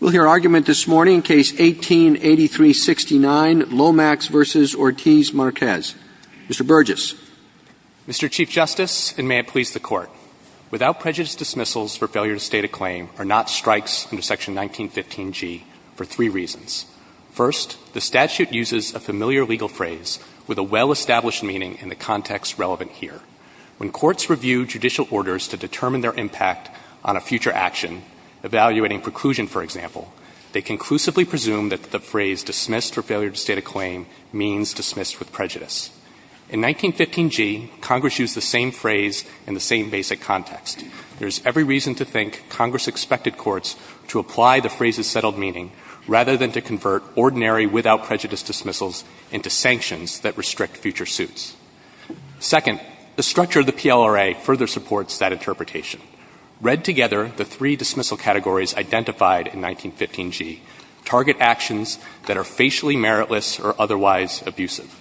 We'll hear argument this morning in Case 18-8369, Lomax v. Ortiz-Marquez. Mr. Burgess. Mr. Chief Justice, and may it please the Court, without prejudice dismissals for failure to state a claim are not strikes under Section 1915G for 3 reasons. First, the statute uses a familiar legal phrase with a well-established meaning in the context relevant here. When they conclusively presume that the phrase dismissed for failure to state a claim means dismissed with prejudice. In 1915G, Congress used the same phrase in the same basic context. There's every reason to think Congress expected courts to apply the phrase's settled meaning rather than to convert ordinary without prejudice dismissals into sanctions that restrict future suits. Second, the structure of the PLRA further supports that interpretation. Read together, the three dismissal categories identified in 1915G target actions that are facially meritless or otherwise abusive.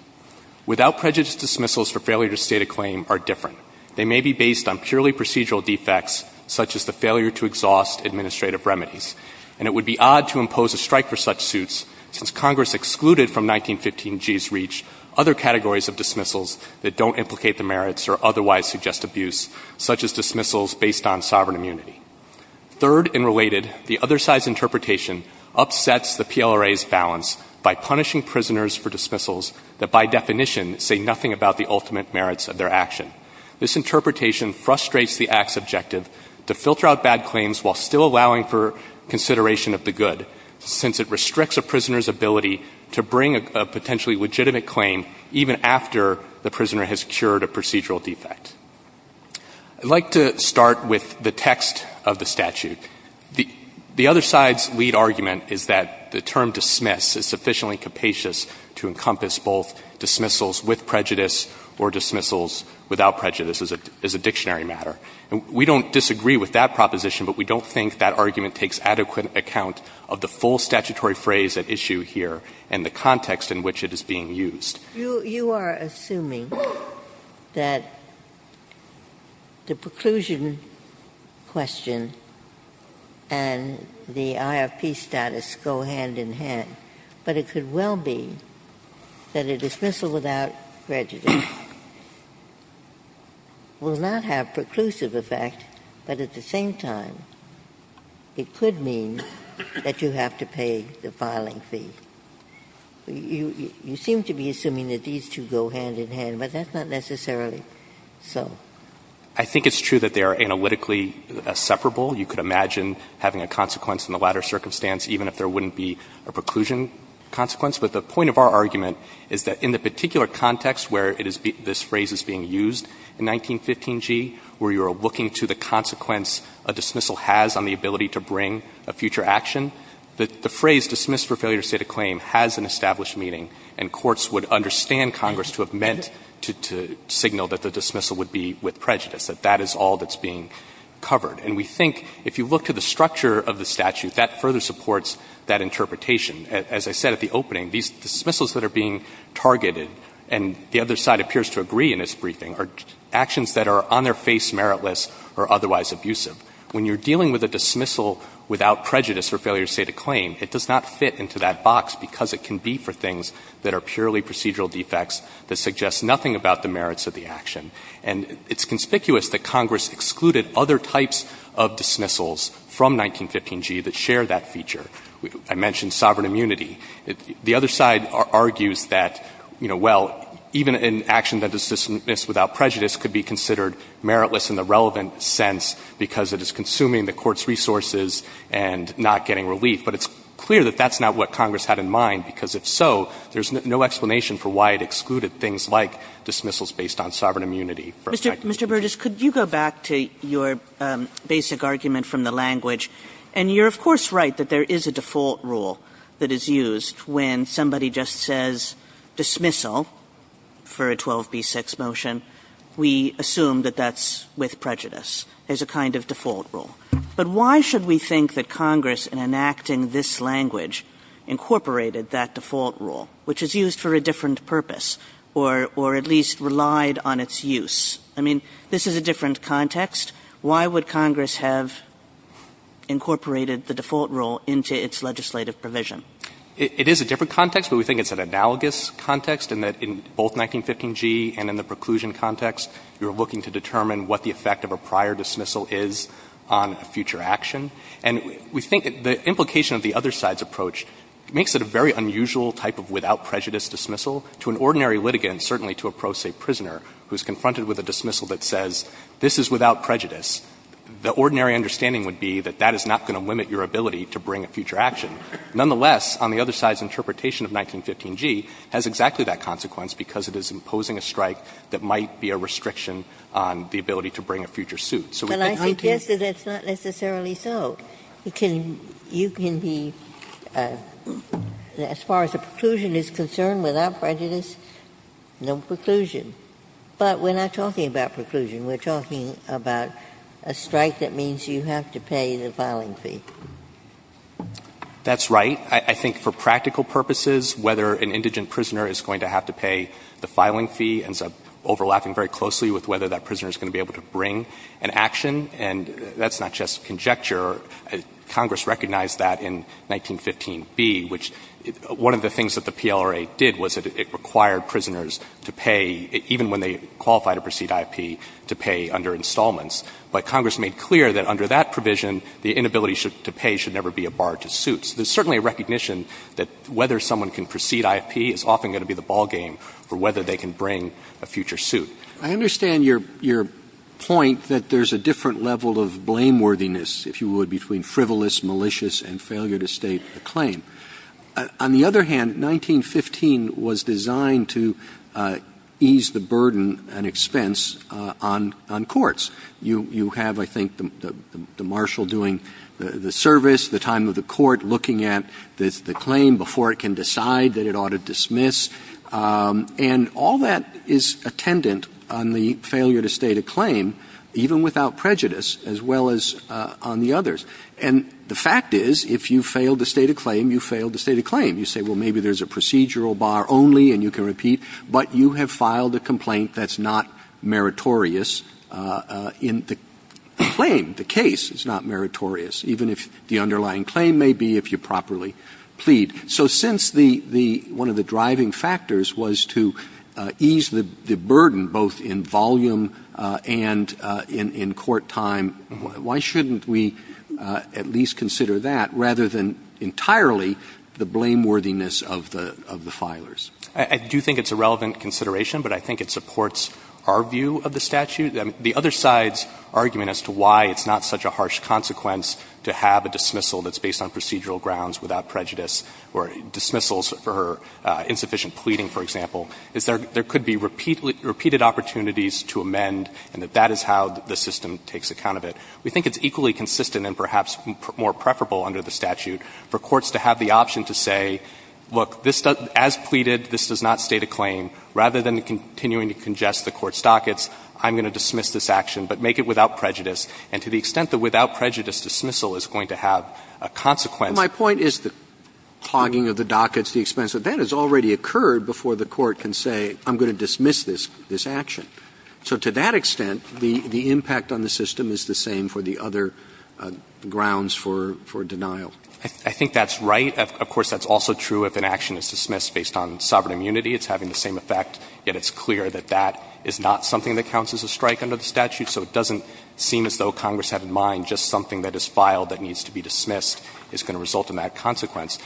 Without prejudice dismissals for failure to state a claim are different. They may be based on purely procedural defects such as the failure to exhaust administrative remedies. And it would be odd to impose a strike for such suits since Congress excluded from 1915G's reach other categories of dismissals that don't implicate the merits or otherwise suggest abuse, such as dismissals based on sovereign immunity. Third and related, the other side's interpretation upsets the PLRA's balance by punishing prisoners for dismissals that by definition say nothing about the ultimate merits of their action. This interpretation frustrates the Act's objective to filter out bad claims while still allowing for consideration of the good since it restricts a prisoner's ability to bring a potentially legitimate claim even after the prisoner has cured a procedural defect. I'd like to start with the text of the statute. The other side's lead argument is that the term dismiss is sufficiently capacious to encompass both dismissals with prejudice or dismissals without prejudice as a dictionary matter. And we don't disagree with that proposition, but we don't think that argument takes adequate account of the full statutory phrase at issue here and the context in which it is being used. Ginsburg. You are assuming that the preclusion question and the IRP status go hand in hand, but it could well be that a dismissal without prejudice will not have preclusive effect, but at the same time, it could mean that you have to pay the filing fee. You seem to be assuming that these two go hand in hand, but that's not necessarily so. I think it's true that they are analytically separable. You could imagine having a consequence in the latter circumstance even if there wouldn't be a preclusion consequence. But the point of our argument is that in the particular context where it is been this phrase is being used in 1915g, where you are looking to the consequence a dismissal has on the ability to bring a future action, the phrase dismissed for failure to state a claim has an established meaning and courts would understand Congress to have meant to signal that the dismissal would be with prejudice, that that is all that's being covered. And we think if you look to the structure of the statute, that further supports that interpretation. As I said at the opening, these dismissals that are being targeted and the other side appears to agree in this briefing are actions that are on their face meritless or otherwise abusive. When you are dealing with a dismissal without prejudice for failure to state a claim, it does not fit into that box because it can be for things that are purely procedural defects that suggest nothing about the merits of the action. And it's conspicuous that Congress excluded other types of dismissals from 1915g that share that feature. I mentioned sovereign immunity. The other side argues that, you know, well, even an action that is dismissed without prejudice could be considered meritless in the relevant sense because it is consuming the court's resources and not getting relief. But it's clear that that's not what Congress had in mind, because if so, there's no explanation for why it excluded things like dismissals based on sovereign immunity from 1915g. Kagan. Mr. Burgess, could you go back to your basic argument from the language? And you're, of course, right that there is a default rule that is used when somebody just says dismissal for a 12b-6 motion. We assume that that's with prejudice as a kind of default rule. But why should we think that Congress, in enacting this language, incorporated that default rule, which is used for a different purpose or at least relied on its use? I mean, this is a different context. Why would Congress have incorporated the default rule into its legislative provision? It is a different context, but we think it's an analogous context, and that in both 1915g and in the preclusion context, you're looking to determine what the effect of a prior dismissal is on a future action. And we think the implication of the other side's approach makes it a very unusual type of without prejudice dismissal. To an ordinary litigant, certainly to a pro se prisoner who's confronted with a dismissal that says this is without prejudice, the ordinary understanding would be that that is not going to limit your ability to bring a future action. Nonetheless, on the other side's interpretation of 1915g has exactly that consequence, because it is imposing a strike that might be a restriction on the ability to bring So we think 1915g can be used for that purpose. Ginsburg. But I suggest that that's not necessarily so. You can be, as far as a preclusion is concerned, without prejudice, no preclusion. But we're not talking about preclusion. We're talking about a strike that means you have to pay the filing fee. That's right. I think for practical purposes, whether an indigent prisoner is going to have to pay the filing fee ends up overlapping very closely with whether that prisoner is going to be able to bring an action. And that's not just conjecture. Congress recognized that in 1915b, which one of the things that the PLRA did was that it required prisoners to pay, even when they qualified to proceed I.F.P., to pay under installments. But Congress made clear that under that provision, the inability to pay should never be a bar to suits. There's certainly a recognition that whether someone can proceed I.F.P. is often going to be the ballgame for whether they can bring a future suit. I understand your point that there's a different level of blameworthiness, if you would, between frivolous, malicious, and failure to state a claim. On the other hand, 1915 was designed to ease the burden and expense on courts. You have, I think, the marshal doing the service, the time of the court looking at the claim before it can decide that it ought to dismiss. And all that is attendant on the failure to state a claim, even without prejudice, as well as on the others. And the fact is, if you fail to state a claim, you fail to state a claim. You say, well, maybe there's a procedural bar only, and you can repeat. But you have filed a complaint that's not meritorious in the claim, the case. It's not meritorious, even if the underlying claim may be, if you properly plead. So since one of the driving factors was to ease the burden, both in volume and in court time, why shouldn't we at least consider that, rather than entirely the blameworthiness of the filers? I do think it's a relevant consideration, but I think it supports our view of the statute. The other side's argument as to why it's not such a harsh consequence to have a dismissal that's based on procedural grounds without prejudice, or dismissals for insufficient pleading, for example, is there could be repeated opportunities to amend, and that is how the system takes account of it. We think it's equally consistent and perhaps more preferable under the statute for courts to have the option to say, look, as pleaded, this does not state a claim. Rather than continuing to congest the court's dockets, I'm going to dismiss this action, but make it without prejudice. And to the extent that without prejudice dismissal is going to have a consequence. Robertson, My point is the clogging of the dockets, the expense of that has already occurred before the court can say, I'm going to dismiss this action. So to that extent, the impact on the system is the same for the other grounds for denial. I think that's right. Of course, that's also true if an action is dismissed based on sovereign immunity. It's having the same effect, yet it's clear that that is not something that counts as a strike under the statute. So it doesn't seem as though Congress had in mind just something that is filed that needs to be dismissed is going to result in that consequence.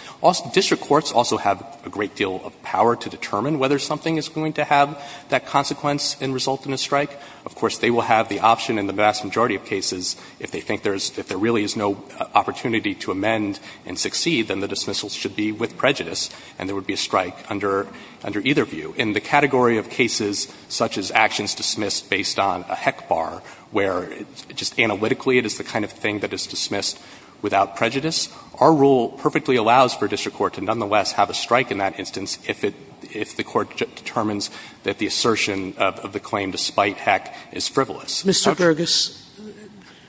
District courts also have a great deal of power to determine whether something is going to have that consequence and result in a strike. Of course, they would have the option in the vast majority of cases if they think there's – if there really is no opportunity to amend and succeed, then the dismissal should be with prejudice and there would be a strike under either view. In the category of cases such as actions dismissed based on a HEC bar, where just analytically it is the kind of thing that is dismissed without prejudice, our rule perfectly allows for a district court to nonetheless have a strike in that instance if it – if the court determines that the assertion of the claim despite HEC is frivolous. Sotomayor. Mr. Gergis,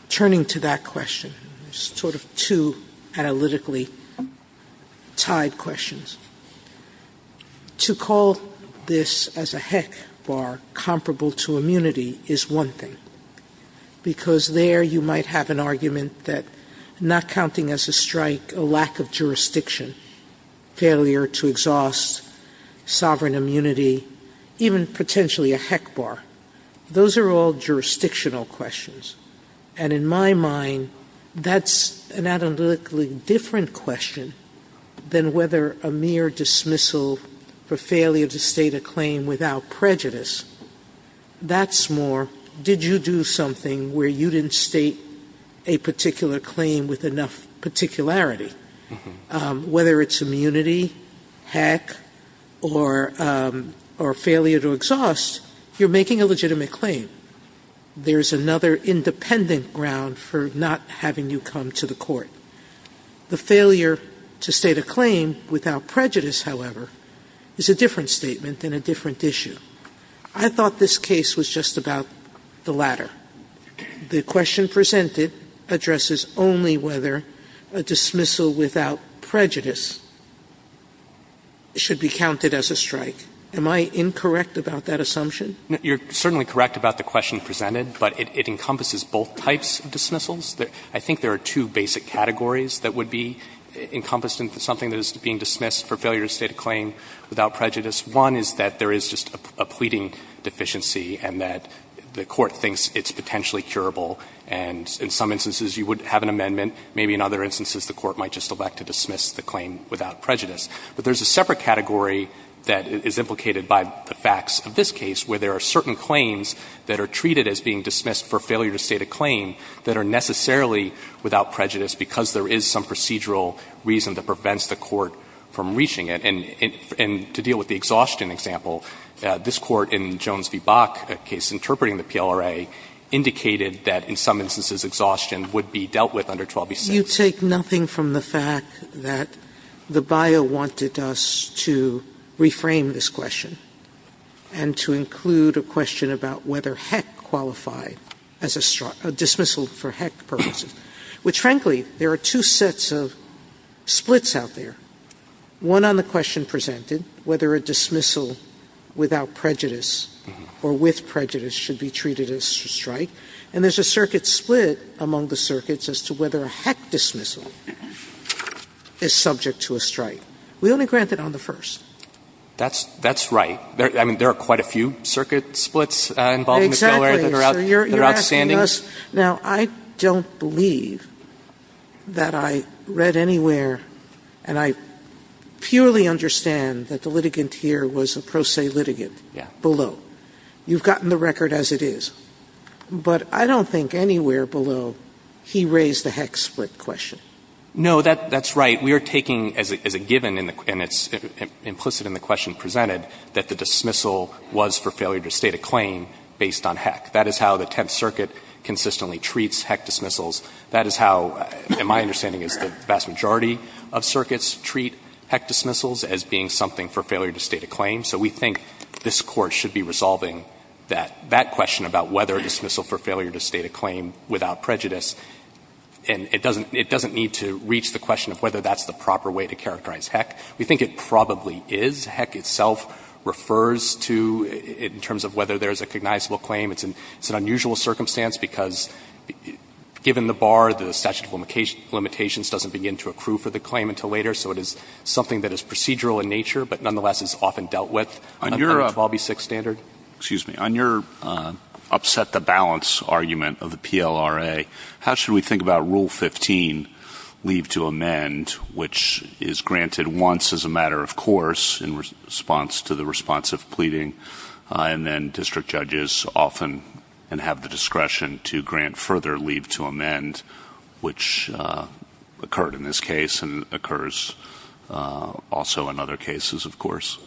turning to that question, sort of two analytically tied questions, to call this as a HEC bar comparable to immunity is one thing, because there you might have an argument that not counting as a strike a lack of jurisdiction, failure to exhaust sovereign immunity, even potentially a HEC bar. Those are all jurisdictional questions. And in my mind, that's an analytically different question than whether a mere dismissal for failure to state a claim without prejudice. That's more, did you do something where you didn't state a particular claim with enough particularity, whether it's immunity, HEC, or failure to exhaust, you're making a legitimate claim. There's another independent ground for not having you come to the court. The failure to state a claim without prejudice, however, is a different statement and a different issue. I thought this case was just about the latter. The question presented addresses only whether a dismissal without prejudice should be counted as a strike. Am I incorrect about that assumption? You're certainly correct about the question presented, but it encompasses both types of dismissals. I think there are two basic categories that would be encompassed in something that is being dismissed for failure to state a claim without prejudice. One is that there is just a pleading deficiency and that the court thinks it's potentially curable, and in some instances you would have an amendment, maybe in other instances the court might just elect to dismiss the claim without prejudice. But there's a separate category that is implicated by the facts of this case where there are certain claims that are treated as being dismissed for failure to state a claim that are necessarily without prejudice because there is some procedural reason that prevents the court from reaching it. And to deal with the exhaustion example, this Court in Jones v. Bach, a case interpreting the PLRA, indicated that in some instances exhaustion would be dealt with under 12b6. You take nothing from the fact that the bio wanted us to reframe this question and to include a question about whether Heck qualified as a dismissal for Heck purposes, which, frankly, there are two sets of splits out there, one on the question presented, whether a dismissal without prejudice or with prejudice should be treated as a strike, and there's a circuit split among the circuits as to whether a Heck dismissal is subject to a strike. We only grant that on the first. That's right. I mean, there are quite a few circuit splits involved in the PLRA that are outstanding. Exactly. So you're asking us. Now, I don't believe that I read anywhere and I purely understand that the litigant here was a pro se litigant below. Yes. You've gotten the record as it is. But I don't think anywhere below he raised the Heck split question. No, that's right. We are taking as a given and it's implicit in the question presented that the dismissal was for failure to state a claim based on Heck. That is how the Tenth Circuit consistently treats Heck dismissals. That is how, in my understanding, the vast majority of circuits treat Heck dismissals as being something for failure to state a claim. So we think this Court should be resolving that question about whether a dismissal for failure to state a claim without prejudice, and it doesn't need to reach the question of whether that's the proper way to characterize Heck. We think it probably is. Heck itself refers to, in terms of whether there's a cognizable claim. It's an unusual circumstance because given the bar, the statute of limitations doesn't begin to accrue for the claim until later. So it is something that is procedural in nature, but nonetheless is often dealt with under the 12B6 standard. Excuse me. On your upset the balance argument of the PLRA, how should we think about Rule 15, leave to amend, which is granted once as a matter of course in response to the response of pleading, and then district judges often have the discretion to grant further leave to amend, which occurred in this case and occurs also in other cases, of course?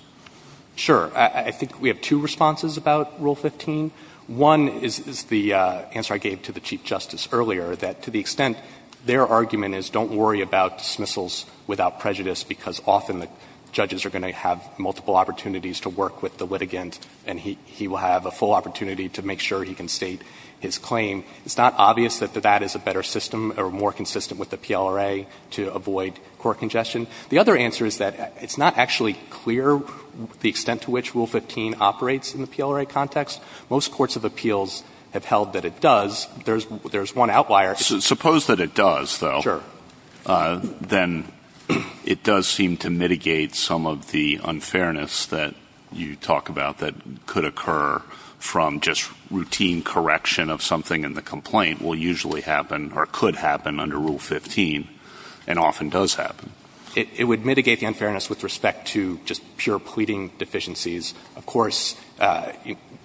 Sure. I think we have two responses about Rule 15. One is the answer I gave to the Chief Justice earlier, that to the extent their argument is don't worry about dismissals without prejudice because often the judges are going to have multiple opportunities to work with the litigant and he will have a full opportunity to make sure he can state his claim, it's not obvious that that is a better system or more consistent with the PLRA to avoid court congestion. The other answer is that it's not actually clear the extent to which Rule 15 operates in the PLRA context. Most courts of appeals have held that it does. There's one outlier. Suppose that it does, though. Sure. Then it does seem to mitigate some of the unfairness that you talk about that could occur from just routine correction of something in the complaint will usually happen or could happen under Rule 15 and often does happen. It would mitigate the unfairness with respect to just pure pleading deficiencies. Of course,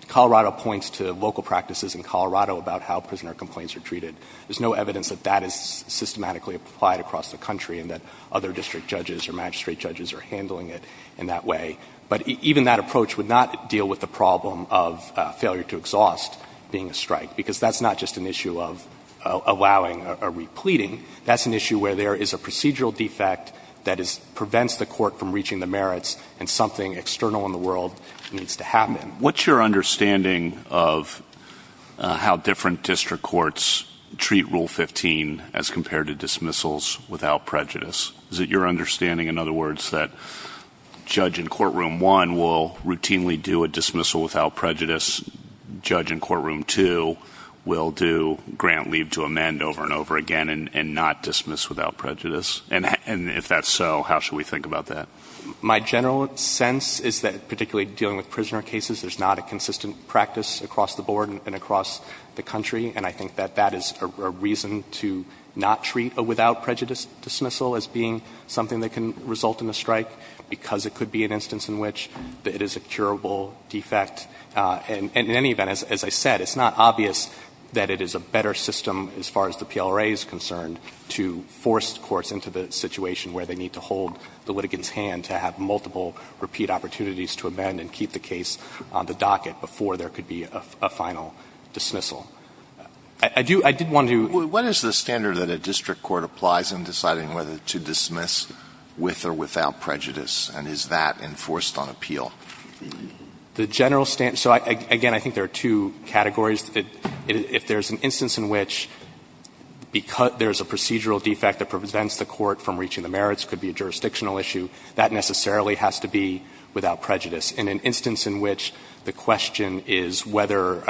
Colorado points to local practices in Colorado about how prisoner complaints are treated. There's no evidence that that is systematically applied across the country and that other district judges or magistrate judges are handling it in that way. But even that approach would not deal with the problem of failure to exhaust being a strike. Because that's not just an issue of allowing or repleading. That's an issue where there is a procedural defect that prevents the court from reaching the merits and something external in the world needs to happen. What's your understanding of how different district courts treat Rule 15 as compared to dismissals without prejudice? Is it your understanding, in other words, that judge in courtroom one will routinely do a dismissal without prejudice, judge in courtroom two will do grant leave to amend over and over again and not dismiss without prejudice? And if that's so, how should we think about that? My general sense is that particularly dealing with prisoner cases, there's not a consistent practice across the board and across the country. And I think that that is a reason to not treat a without prejudice dismissal as being something that can result in a strike because it could be an instance in which it is a curable defect. And in any event, as I said, it's not obvious that it is a better system as far as the PLRA is concerned to force courts into the situation where they need to hold the litigant's hand to have multiple repeat opportunities to amend and keep the case on the docket before there could be a final dismissal. I do want to do What is the standard that a district court applies in deciding whether to dismiss with or without prejudice, and is that enforced on appeal? The general standard, so again, I think there are two categories. If there's an instance in which there's a procedural defect that prevents the court from reaching the merits, it could be a jurisdictional issue, that necessarily has to be without prejudice. In an instance in which the question is whether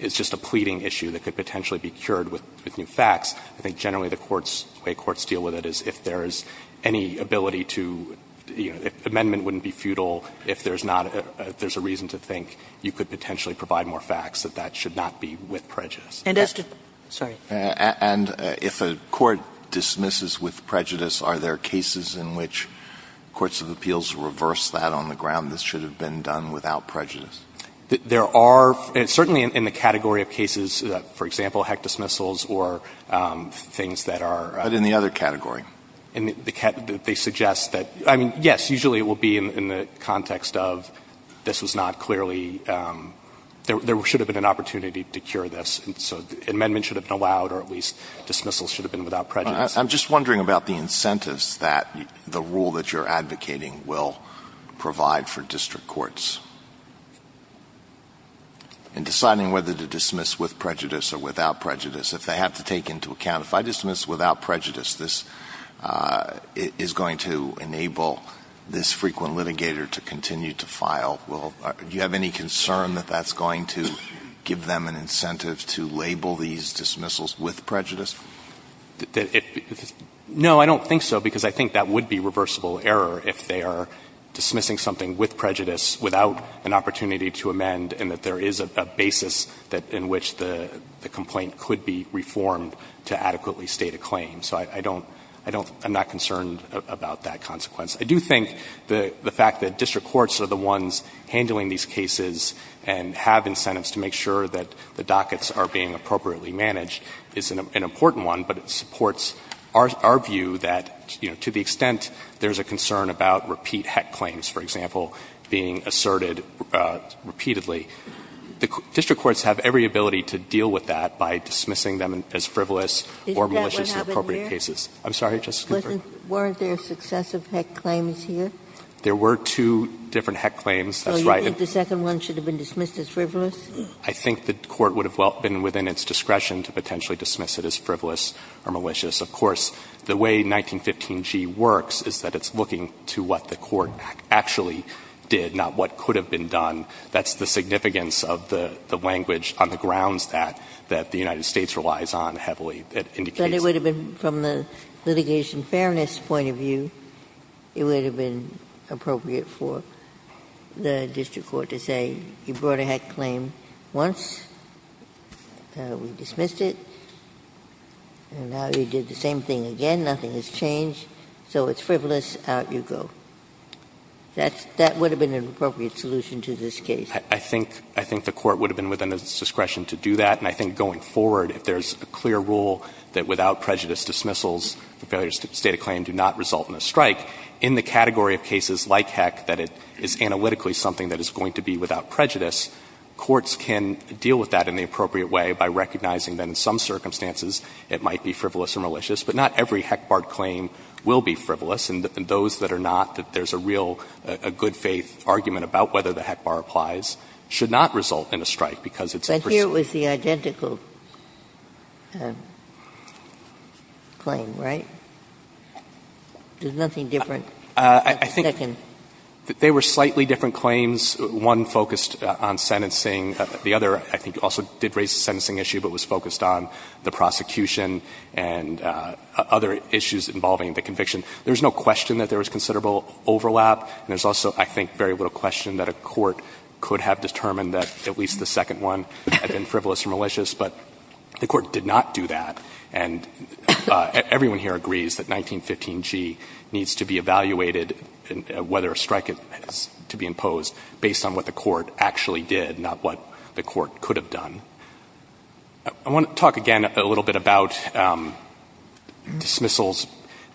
it's just a pleading issue that could potentially be cured with new facts, I think generally the courts, the way courts deal with it is if there is any ability to, you know, if amendment wouldn't be futile, if there's not, if there's a reason to think you could potentially provide more facts, that that should not be with prejudice. Kagan. And if a court dismisses with prejudice, are there cases in which courts of appeals reverse that on the ground, this should have been done without prejudice? There are, certainly in the category of cases, for example, heck dismissals or things that are But in the other category? They suggest that, I mean, yes, usually it will be in the context of this was not clearly, there should have been an opportunity to cure this, so amendment should have been allowed or at least dismissal should have been without prejudice. I'm just wondering about the incentives that the rule that you're advocating will provide for district courts. In deciding whether to dismiss with prejudice or without prejudice, if they have to take into account, if I dismiss without prejudice, this is going to enable this frequent litigator to continue to file. Do you have any concern that that's going to give them an incentive to label these dismissals with prejudice? No, I don't think so, because I think that would be reversible error if they are without an opportunity to amend and that there is a basis in which the complaint could be reformed to adequately state a claim. So I don't, I don't, I'm not concerned about that consequence. I do think the fact that district courts are the ones handling these cases and have incentives to make sure that the dockets are being appropriately managed is an important one, but it supports our view that, you know, to the extent there's a concern about repeat heck claims, for example, being asserted repeatedly, the district courts have every ability to deal with that by dismissing them as frivolous or malicious in appropriate cases. I'm sorry, Justice Ginsburg. Weren't there successive heck claims here? There were two different heck claims, that's right. So you think the second one should have been dismissed as frivolous? I think the Court would have been within its discretion to potentially dismiss it as frivolous or malicious. Of course, the way 1915g works is that it's looking to what the Court actually did, not what could have been done. That's the significance of the language on the grounds that, that the United States relies on heavily. It indicates that. But it would have been, from the litigation fairness point of view, it would have been appropriate for the district court to say you brought a heck claim once, we dismissed it, and now you did the same thing again, nothing has changed, so it's frivolous, out you go. That would have been an appropriate solution to this case. I think the Court would have been within its discretion to do that. And I think going forward, if there's a clear rule that without prejudice dismissals the failure to state a claim do not result in a strike, in the category of cases like heck that it is analytically something that is going to be without prejudice, courts can deal with that in the appropriate way by recognizing that in some circumstances it might be frivolous or malicious, but not every heck-barred claim will be frivolous, and those that are not, that there's a real good-faith argument about whether the heck-bar applies, should not result in a strike, because it's a personal. Ginsburg But here it was the identical claim, right? There's nothing different. It's the second. They were slightly different claims. One focused on sentencing. The other, I think, also did raise the sentencing issue, but was focused on the prosecution and other issues involving the conviction. There's no question that there was considerable overlap, and there's also, I think, very little question that a court could have determined that at least the second one had been frivolous or malicious, but the Court did not do that. And everyone here agrees that 1915g needs to be evaluated, whether a strike is to be imposed, based on what the Court actually did, not what the Court could have done. I want to talk again a little bit about dismissals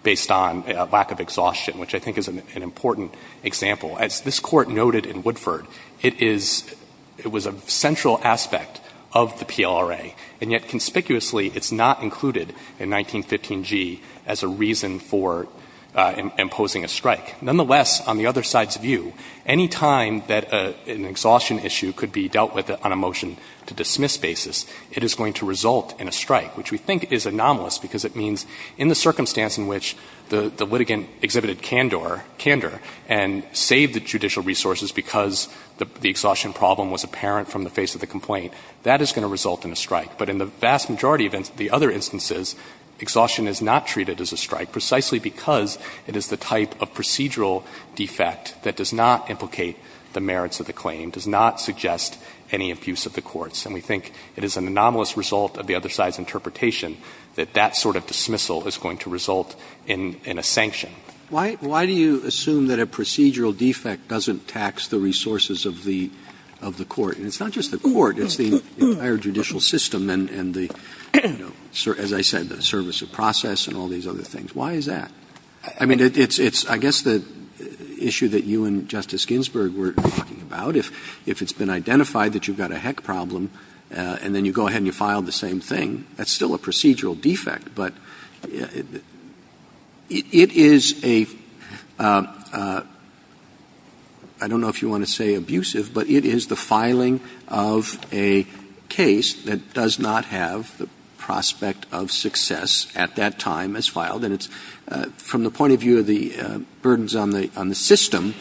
based on lack of exhaustion, which I think is an important example. As this Court noted in Woodford, it is – it was a central aspect of the PLRA, and yet conspicuously it's not included in the statute. It's not included in 1915g as a reason for imposing a strike. Nonetheless, on the other side's view, any time that an exhaustion issue could be dealt with on a motion-to-dismiss basis, it is going to result in a strike, which we think is anomalous, because it means in the circumstance in which the litigant exhibited candor and saved the judicial resources because the exhaustion problem was apparent from the face of the complaint, that is going to result in a strike. But in the vast majority of the other instances, exhaustion is not treated as a strike precisely because it is the type of procedural defect that does not implicate the merits of the claim, does not suggest any abuse of the courts. And we think it is an anomalous result of the other side's interpretation that that sort of dismissal is going to result in a sanction. Roberts' Why do you assume that a procedural defect doesn't tax the resources of the Court? It's not just the Court, it's the entire judicial system and the, you know, as I said, the service of process and all these other things. Why is that? I mean, it's the issue that you and Justice Ginsburg were talking about. If it's been identified that you've got a heck problem, and then you go ahead and you file the same thing, that's still a procedural defect. But it is a – I don't know if you want to say abusive, but it is the filing of a case that does not have the prospect of success at that time as filed. And it's from the point of view of the burdens on the system,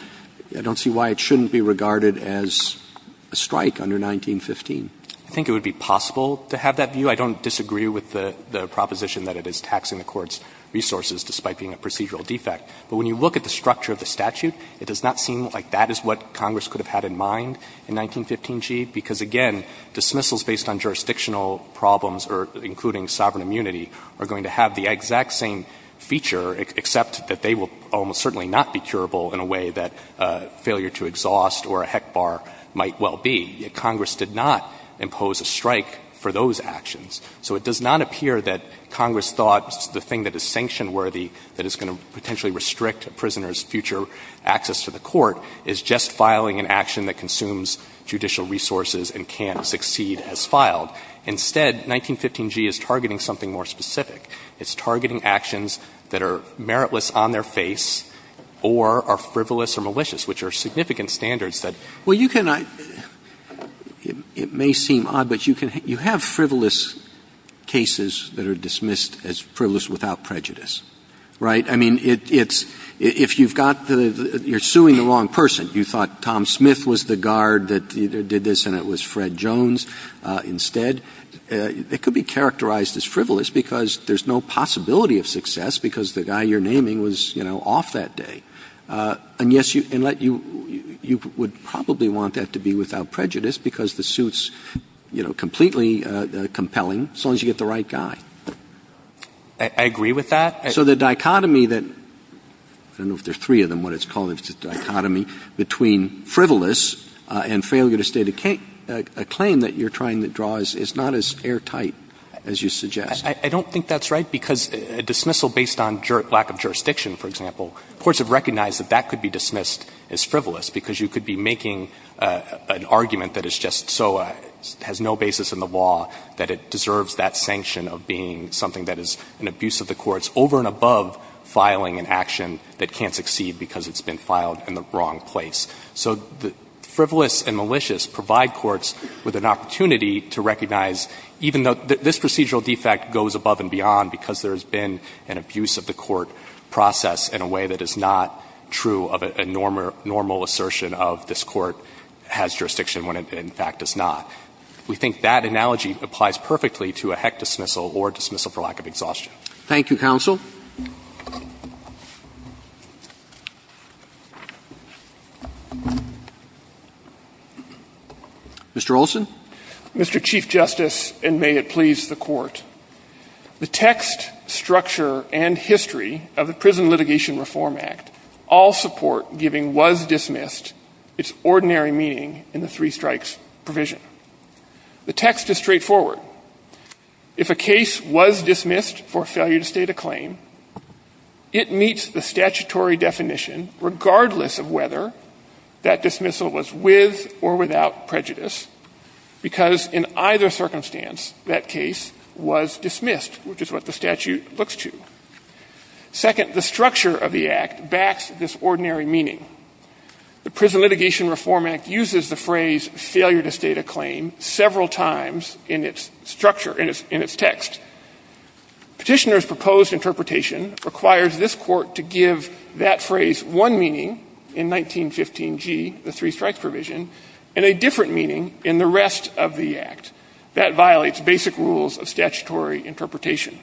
I don't see why it shouldn't be regarded as a strike under 1915. I think it would be possible to have that view. I don't disagree with the proposition that it is taxing the Court's resources despite being a procedural defect. But when you look at the structure of the statute, it does not seem like that is what happened under 1915G, because, again, dismissals based on jurisdictional problems, or including sovereign immunity, are going to have the exact same feature, except that they will almost certainly not be curable in a way that failure to exhaust or a heck bar might well be. Congress did not impose a strike for those actions. So it does not appear that Congress thought the thing that is sanction-worthy that is going to potentially restrict a prisoner's future access to the Court is just judicial resources and can't succeed as filed. Instead, 1915G is targeting something more specific. It's targeting actions that are meritless on their face or are frivolous or malicious, which are significant standards that you can't do. Roberts. It may seem odd, but you have frivolous cases that are dismissed as frivolous without prejudice, right? I mean, it's — if you've got the — you're suing the wrong person. You thought Tom Smith was the guard that did this and it was Fred Jones instead. It could be characterized as frivolous because there's no possibility of success because the guy you're naming was, you know, off that day. And, yes, you — and let you — you would probably want that to be without prejudice because the suit's, you know, completely compelling as long as you get the right guy. I agree with that. So the dichotomy that — I don't know if there's three of them, what it's called, I believe it's a dichotomy between frivolous and failure to state a claim that you're trying to draw is not as airtight as you suggest. I don't think that's right because a dismissal based on lack of jurisdiction, for example, courts have recognized that that could be dismissed as frivolous because you could be making an argument that is just so — has no basis in the law that it deserves that sanction of being something that is an abuse of the courts over and above filing an action that can't succeed because it's been filed in the wrong place. So the frivolous and malicious provide courts with an opportunity to recognize even though this procedural defect goes above and beyond because there's been an abuse of the court process in a way that is not true of a normal — normal assertion of this court has jurisdiction when it, in fact, does not. We think that analogy applies perfectly to a heck dismissal or dismissal for lack of exhaustion. Thank you, counsel. Mr. Olson. Mr. Chief Justice, and may it please the Court, the text, structure, and history of the Prison Litigation Reform Act all support giving was dismissed its ordinary meaning in the three strikes provision. The text is straightforward. If a case was dismissed for failure to state a claim, it meets the statutory definition regardless of whether that dismissal was with or without prejudice because in either circumstance that case was dismissed, which is what the statute looks to. Second, the structure of the act backs this ordinary meaning. The Prison Litigation Reform Act uses the phrase failure to state a claim several times in its structure, in its text. Petitioners' proposed interpretation requires this court to give that phrase one meaning in 1915G, the three strikes provision, and a different meaning in the rest of the act. That violates basic rules of statutory interpretation.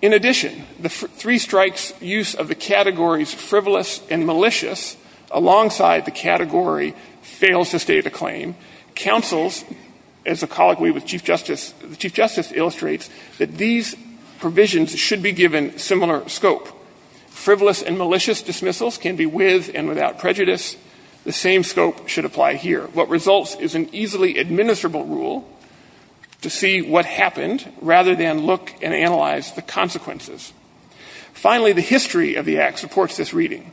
In addition, the three strikes use of the categories frivolous and malicious alongside the category fails to state a claim, counsels, as a colleague we with Chief Justice, the Chief Justice illustrates that these provisions should be given similar scope. Frivolous and malicious dismissals can be with and without prejudice. The same scope should apply here. What results is an easily administrable rule to see what happened rather than look and analyze the consequences. Finally, the history of the act supports this reading.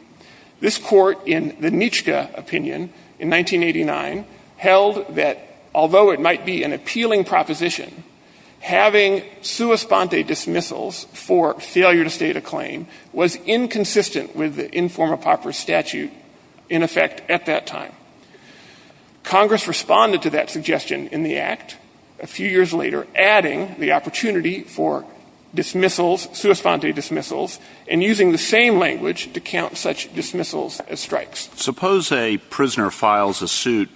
This court in the Nitschke opinion in 1989 held that although it might be an appealing proposition, having sua sponte dismissals for failure to state a claim was inconsistent with the Informa Popper statute in effect at that time. Congress responded to that suggestion in the act a few years later, adding the opportunity for dismissals, sua sponte dismissals, and using the same language to describe dismissals as strikes. Suppose a prisoner files a suit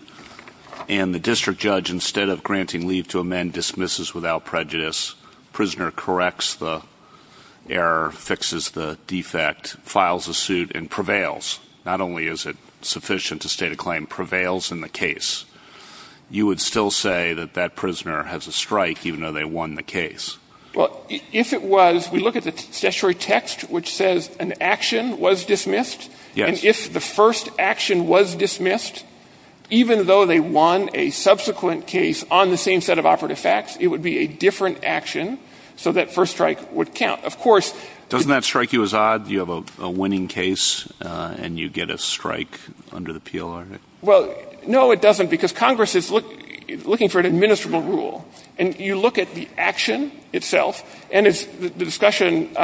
and the district judge, instead of granting leave to amend, dismisses without prejudice. Prisoner corrects the error, fixes the defect, files a suit and prevails. Not only is it sufficient to state a claim, prevails in the case. You would still say that that prisoner has a strike, even though they won the case. Well, if it was, we look at the statutory text, which says an action was dismissed. And if the first action was dismissed, even though they won a subsequent case on the same set of operative facts, it would be a different action. So that first strike would count. Of course. Doesn't that strike you as odd? You have a winning case and you get a strike under the Peel article? Well, no, it doesn't because Congress is looking for an administrable rule. And you look at the action itself and as the discussion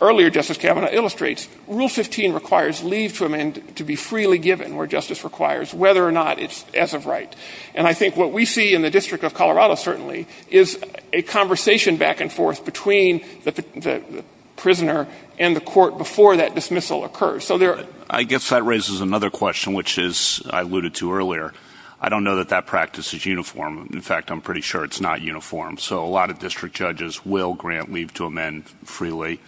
earlier, Justice Kavanaugh illustrates, rule 15 requires leave to amend to be freely given where justice requires, whether or not it's as of right. And I think what we see in the district of Colorado certainly is a conversation back and forth between the prisoner and the court before that dismissal occurs. So there. I guess that raises another question, which is, I alluded to earlier, I don't know that that practice is uniform. In fact, I'm pretty sure it's not uniform. So a lot of district judges will grant leave to amend freely,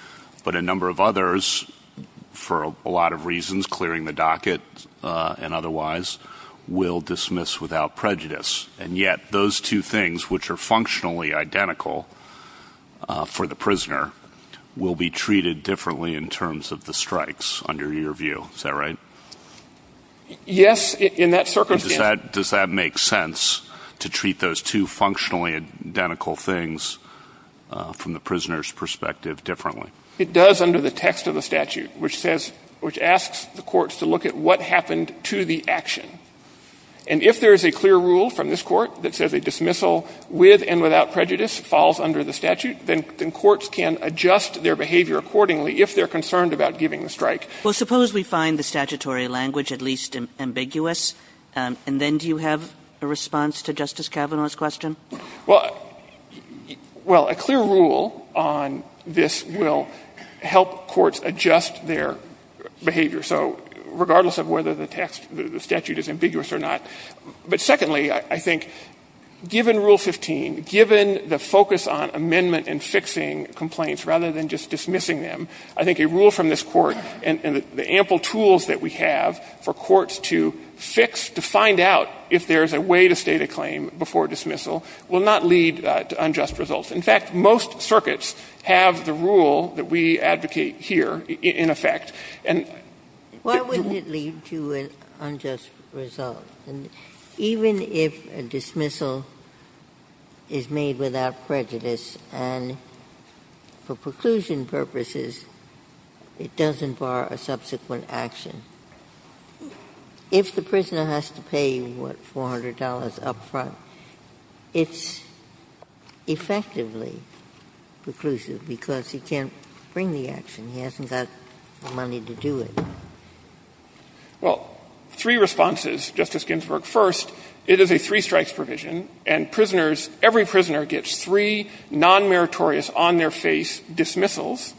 but a number of others for a lot of reasons, clearing the docket and otherwise will dismiss without prejudice. And yet those two things, which are functionally identical for the prisoner will be treated differently in terms of the strikes under your view. Is that right? Yes. In that circumstance, does that make sense to treat those two functionally identical things from the prisoner's perspective differently? It does under the text of the statute, which says, which asks the courts to look at what happened to the action. And if there is a clear rule from this court that says a dismissal with and without prejudice falls under the statute, then courts can adjust their behavior accordingly if they're concerned about giving the strike. Well, suppose we find the statutory language at least ambiguous, and then do you have a response to Justice Kavanaugh's question? Well, a clear rule on this will help courts adjust their behavior. So regardless of whether the text, the statute is ambiguous or not. But secondly, I think given Rule 15, given the focus on amendment and fixing complaints rather than just dismissing them, I think a rule from this court and the ample tools that we have for courts to fix, to find out if there's a way to state a claim before dismissal will not lead to unjust results. In fact, most circuits have the rule that we advocate here in effect. And why wouldn't it lead to an unjust result? Even if a dismissal is made without prejudice and for preclusion purposes, it doesn't bar a subsequent action, if the prisoner has to pay, what, $400 up front, it's effectively preclusive because he can't bring the action. He hasn't got the money to do it. Well, three responses, Justice Ginsburg. First, it is a three-strikes provision, and prisoners, every prisoner gets three non-meritorious on-their-face dismissals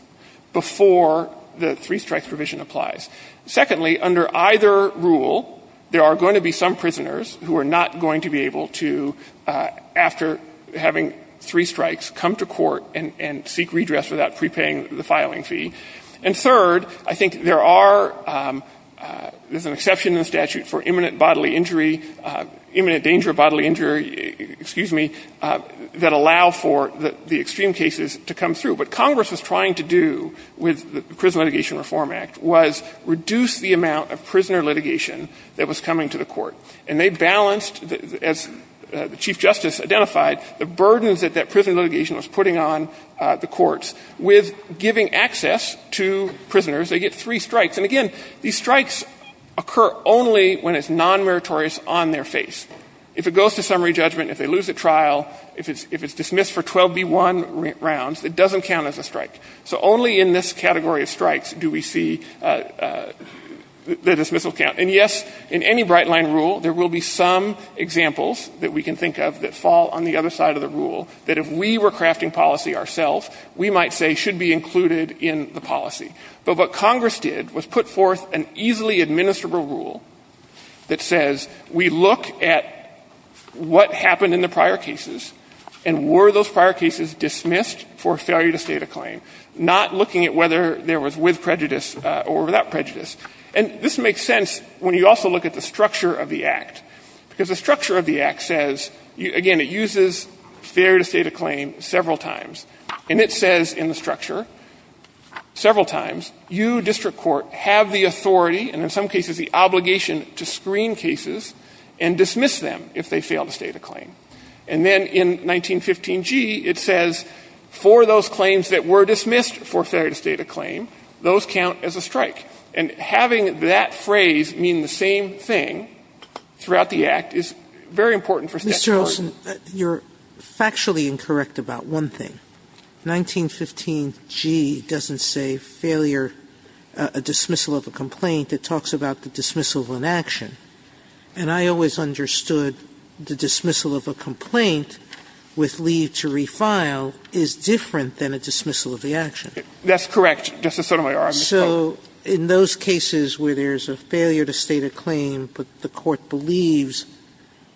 before the three-strikes provision applies. Secondly, under either rule, there are going to be some prisoners who are not going to be able to, after having three strikes, come to court and seek redress without prepaying the filing fee. And third, I think there are, there's an exception in the statute for imminent bodily injury, imminent danger of bodily injury, excuse me, that allow for the extreme cases to come through. What Congress was trying to do with the Prison Litigation Reform Act was reduce the amount of prisoner litigation that was coming to the court. And they balanced, as the Chief Justice identified, the burdens that that prisoner litigation was putting on the courts with giving access to prisoners. They get three strikes. And again, these strikes occur only when it's non-meritorious on-their-face. If it goes to summary judgment, if they lose at trial, if it's dismissed for 12b1 rounds, it doesn't count as a strike. So only in this category of strikes do we see the dismissal count. And yes, in any bright-line rule, there will be some examples that we can think of that fall on the other side of the rule, that if we were crafting policy ourselves, we might say should be included in the policy. But what Congress did was put forth an easily administrable rule that says we look at what happened in the prior cases, and were those prior cases dismissed for failure to state a claim, not looking at whether there was with prejudice or without prejudice. And this makes sense when you also look at the structure of the Act, because the structure of the Act says, again, it uses failure to state a claim several times. And it says in the structure several times, you, district court, have the authority and in some cases the obligation to screen cases and dismiss them if they fail to state a claim. And then in 1915g, it says for those claims that were dismissed for failure to state a claim, those count as a strike. And having that phrase mean the same thing throughout the Act is very important Sotomayor, you're factually incorrect about one thing. 1915g doesn't say failure, a dismissal of a complaint. It talks about the dismissal of an action. And I always understood the dismissal of a complaint with leave to refile is different than a dismissal of the action. That's correct, Justice Sotomayor. So in those cases where there's a failure to state a claim, but the court believes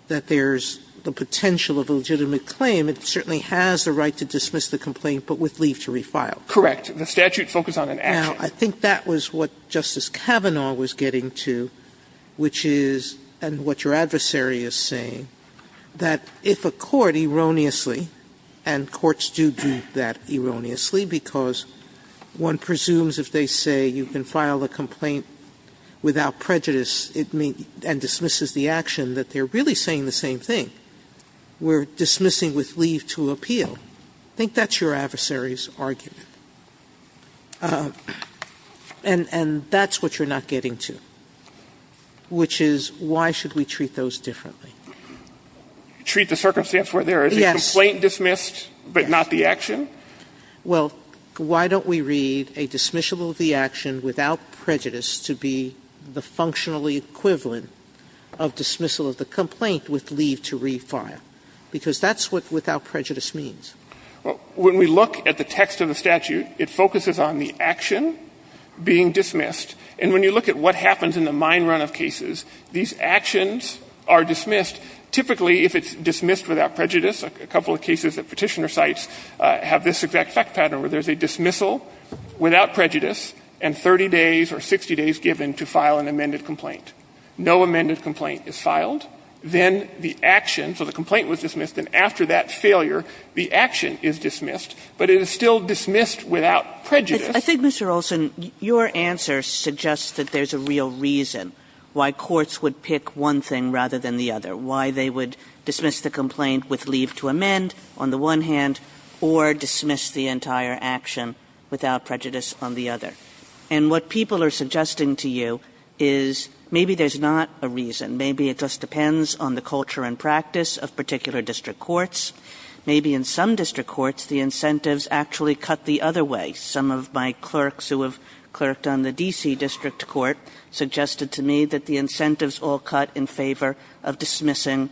that there's the potential of a legitimate claim, it certainly has the right to dismiss the complaint, but with leave to refile. Correct. The statute focused on an action. Now, I think that was what Justice Kavanaugh was getting to, which is, and what your adversary is saying, that if a court erroneously, and courts do do that erroneously because one presumes if they say you can file a complaint without prejudice and dismisses the action, that they're really saying the same thing. We're dismissing with leave to appeal. I think that's your adversary's argument. And that's what you're not getting to, which is, why should we treat those differently? Treat the circumstance where there is a complaint dismissed, but not the action? Well, why don't we read a dismissal of the action without prejudice to be the functionally equivalent of dismissal of the complaint with leave to refile? Because that's what without prejudice means. Well, when we look at the text of the statute, it focuses on the action being dismissed. And when you look at what happens in the mine run of cases, these actions are dismissed. Typically, if it's dismissed without prejudice, a couple of cases that Petitioner cites have this exact fact pattern, where there's a dismissal without prejudice and 30 days or 60 days given to file an amended complaint. No amended complaint is filed. Then the action, so the complaint was dismissed, and after that failure, the action is dismissed, but it is still dismissed without prejudice. Kagan. I think, Mr. Olson, your answer suggests that there's a real reason why courts to amend, on the one hand, or dismiss the entire action without prejudice on the other. And what people are suggesting to you is maybe there's not a reason. Maybe it just depends on the culture and practice of particular district courts. Maybe in some district courts, the incentives actually cut the other way. Some of my clerks who have clerked on the D.C. District Court suggested to me that the incentives all cut in favor of dismissing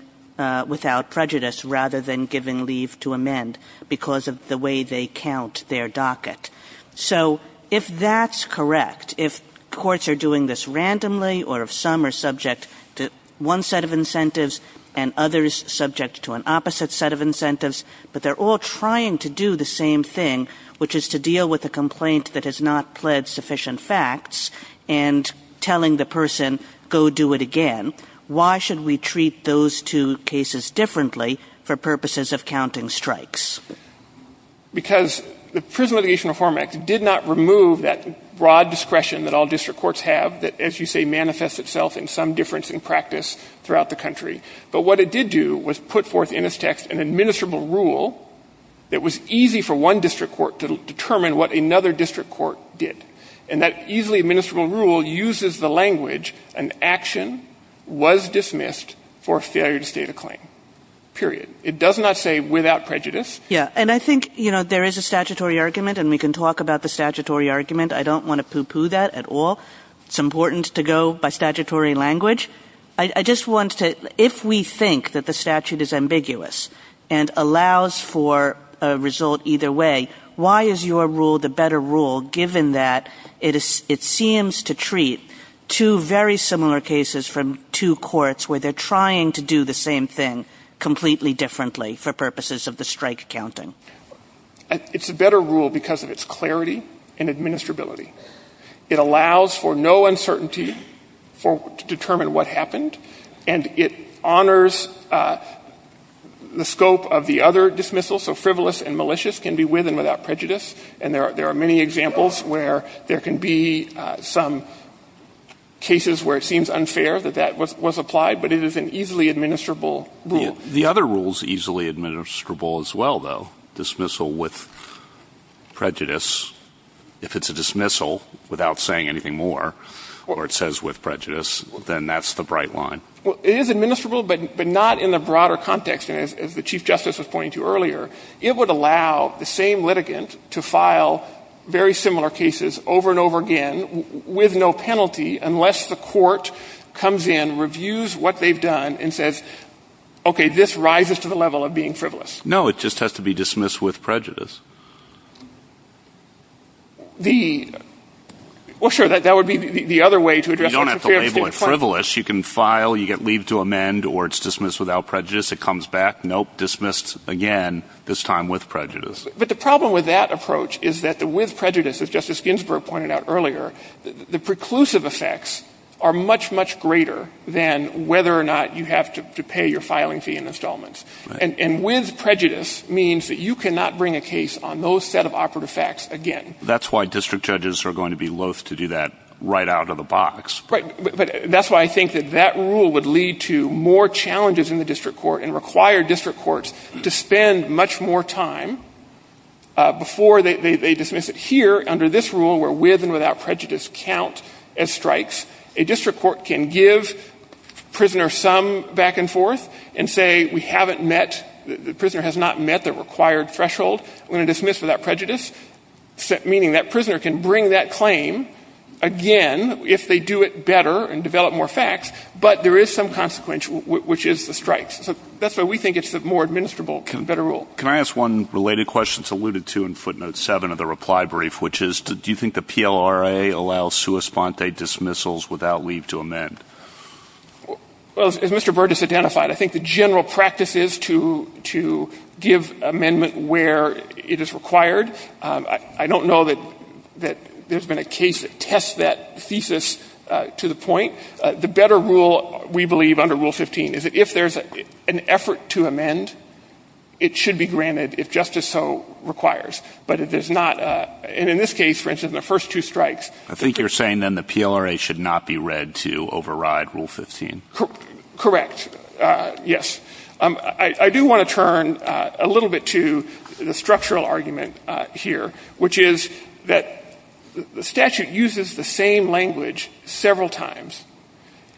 without prejudice rather than giving leave to amend because of the way they count their docket. So, if that's correct, if courts are doing this randomly or if some are subject to one set of incentives and others subject to an opposite set of incentives, but they're all trying to do the same thing, which is to deal with a complaint that has not pled sufficient facts. And telling the person, go do it again. Why should we treat those two cases differently for purposes of counting strikes? Because the Prison Litigation Reform Act did not remove that broad discretion that all district courts have that, as you say, manifests itself in some difference in practice throughout the country. But what it did do was put forth in its text an administrable rule that was easy for one district court to determine what another district court did. And that easily administrable rule uses the language, an action was dismissed for failure to state a claim, period. It does not say without prejudice. Yeah, and I think, you know, there is a statutory argument and we can talk about the statutory argument. I don't want to poo-poo that at all. It's important to go by statutory language. I just want to, if we think that the statute is ambiguous and allows for a result either way, why is your rule the better rule given that it seems to treat two very similar cases from two courts, where they're trying to do the same thing completely differently for purposes of the strike counting? It's a better rule because of its clarity and administrability. It allows for no uncertainty to determine what happened. And it honors the scope of the other dismissals, so frivolous and without prejudice, and there are many examples where there can be some cases where it seems unfair that that was applied, but it is an easily administrable rule. The other rule's easily administrable as well, though. Dismissal with prejudice. If it's a dismissal without saying anything more, or it says with prejudice, then that's the bright line. Well, it is administrable, but not in the broader context, as the Chief Justice was pointing to earlier. It would allow the same litigant to file very similar cases over and over again with no penalty, unless the court comes in, reviews what they've done, and says, okay, this rises to the level of being frivolous. No, it just has to be dismissed with prejudice. The, well sure, that would be the other way to address it. You don't have to label it frivolous. You can file, you get leave to amend, or it's dismissed without prejudice. It comes back, nope, dismissed again, this time with prejudice. But the problem with that approach is that the with prejudice, as Justice Ginsburg pointed out earlier, the preclusive effects are much, much greater than whether or not you have to pay your filing fee and installments. And with prejudice means that you cannot bring a case on those set of operative facts again. That's why district judges are going to be loath to do that right out of the box. Right, but that's why I think that that rule would lead to more challenges in the district court and require district courts to spend much more time before they dismiss it. Here, under this rule, where with and without prejudice count as strikes, a district court can give prisoners some back and forth and say, we haven't met, the prisoner has not met the required threshold, we're going to dismiss without prejudice. Meaning that prisoner can bring that claim again if they do it better and develop more facts. But there is some consequence, which is the strikes. So that's why we think it's the more administrable, better rule. Can I ask one related question, it's alluded to in footnote seven of the reply brief, which is, do you think the PLRA allows sui sponte dismissals without leave to amend? Well, as Mr. Burgess identified, I think the general practice is to give amendment where it is required. I don't know that there's been a case that tests that thesis to the point. The better rule, we believe, under Rule 15, is that if there's an effort to amend, it should be granted if justice so requires. But it is not, and in this case, for instance, the first two strikes. I think you're saying then the PLRA should not be read to override Rule 15. Correct, yes. I do want to turn a little bit to the structural argument here, which is that the statute uses the same language several times.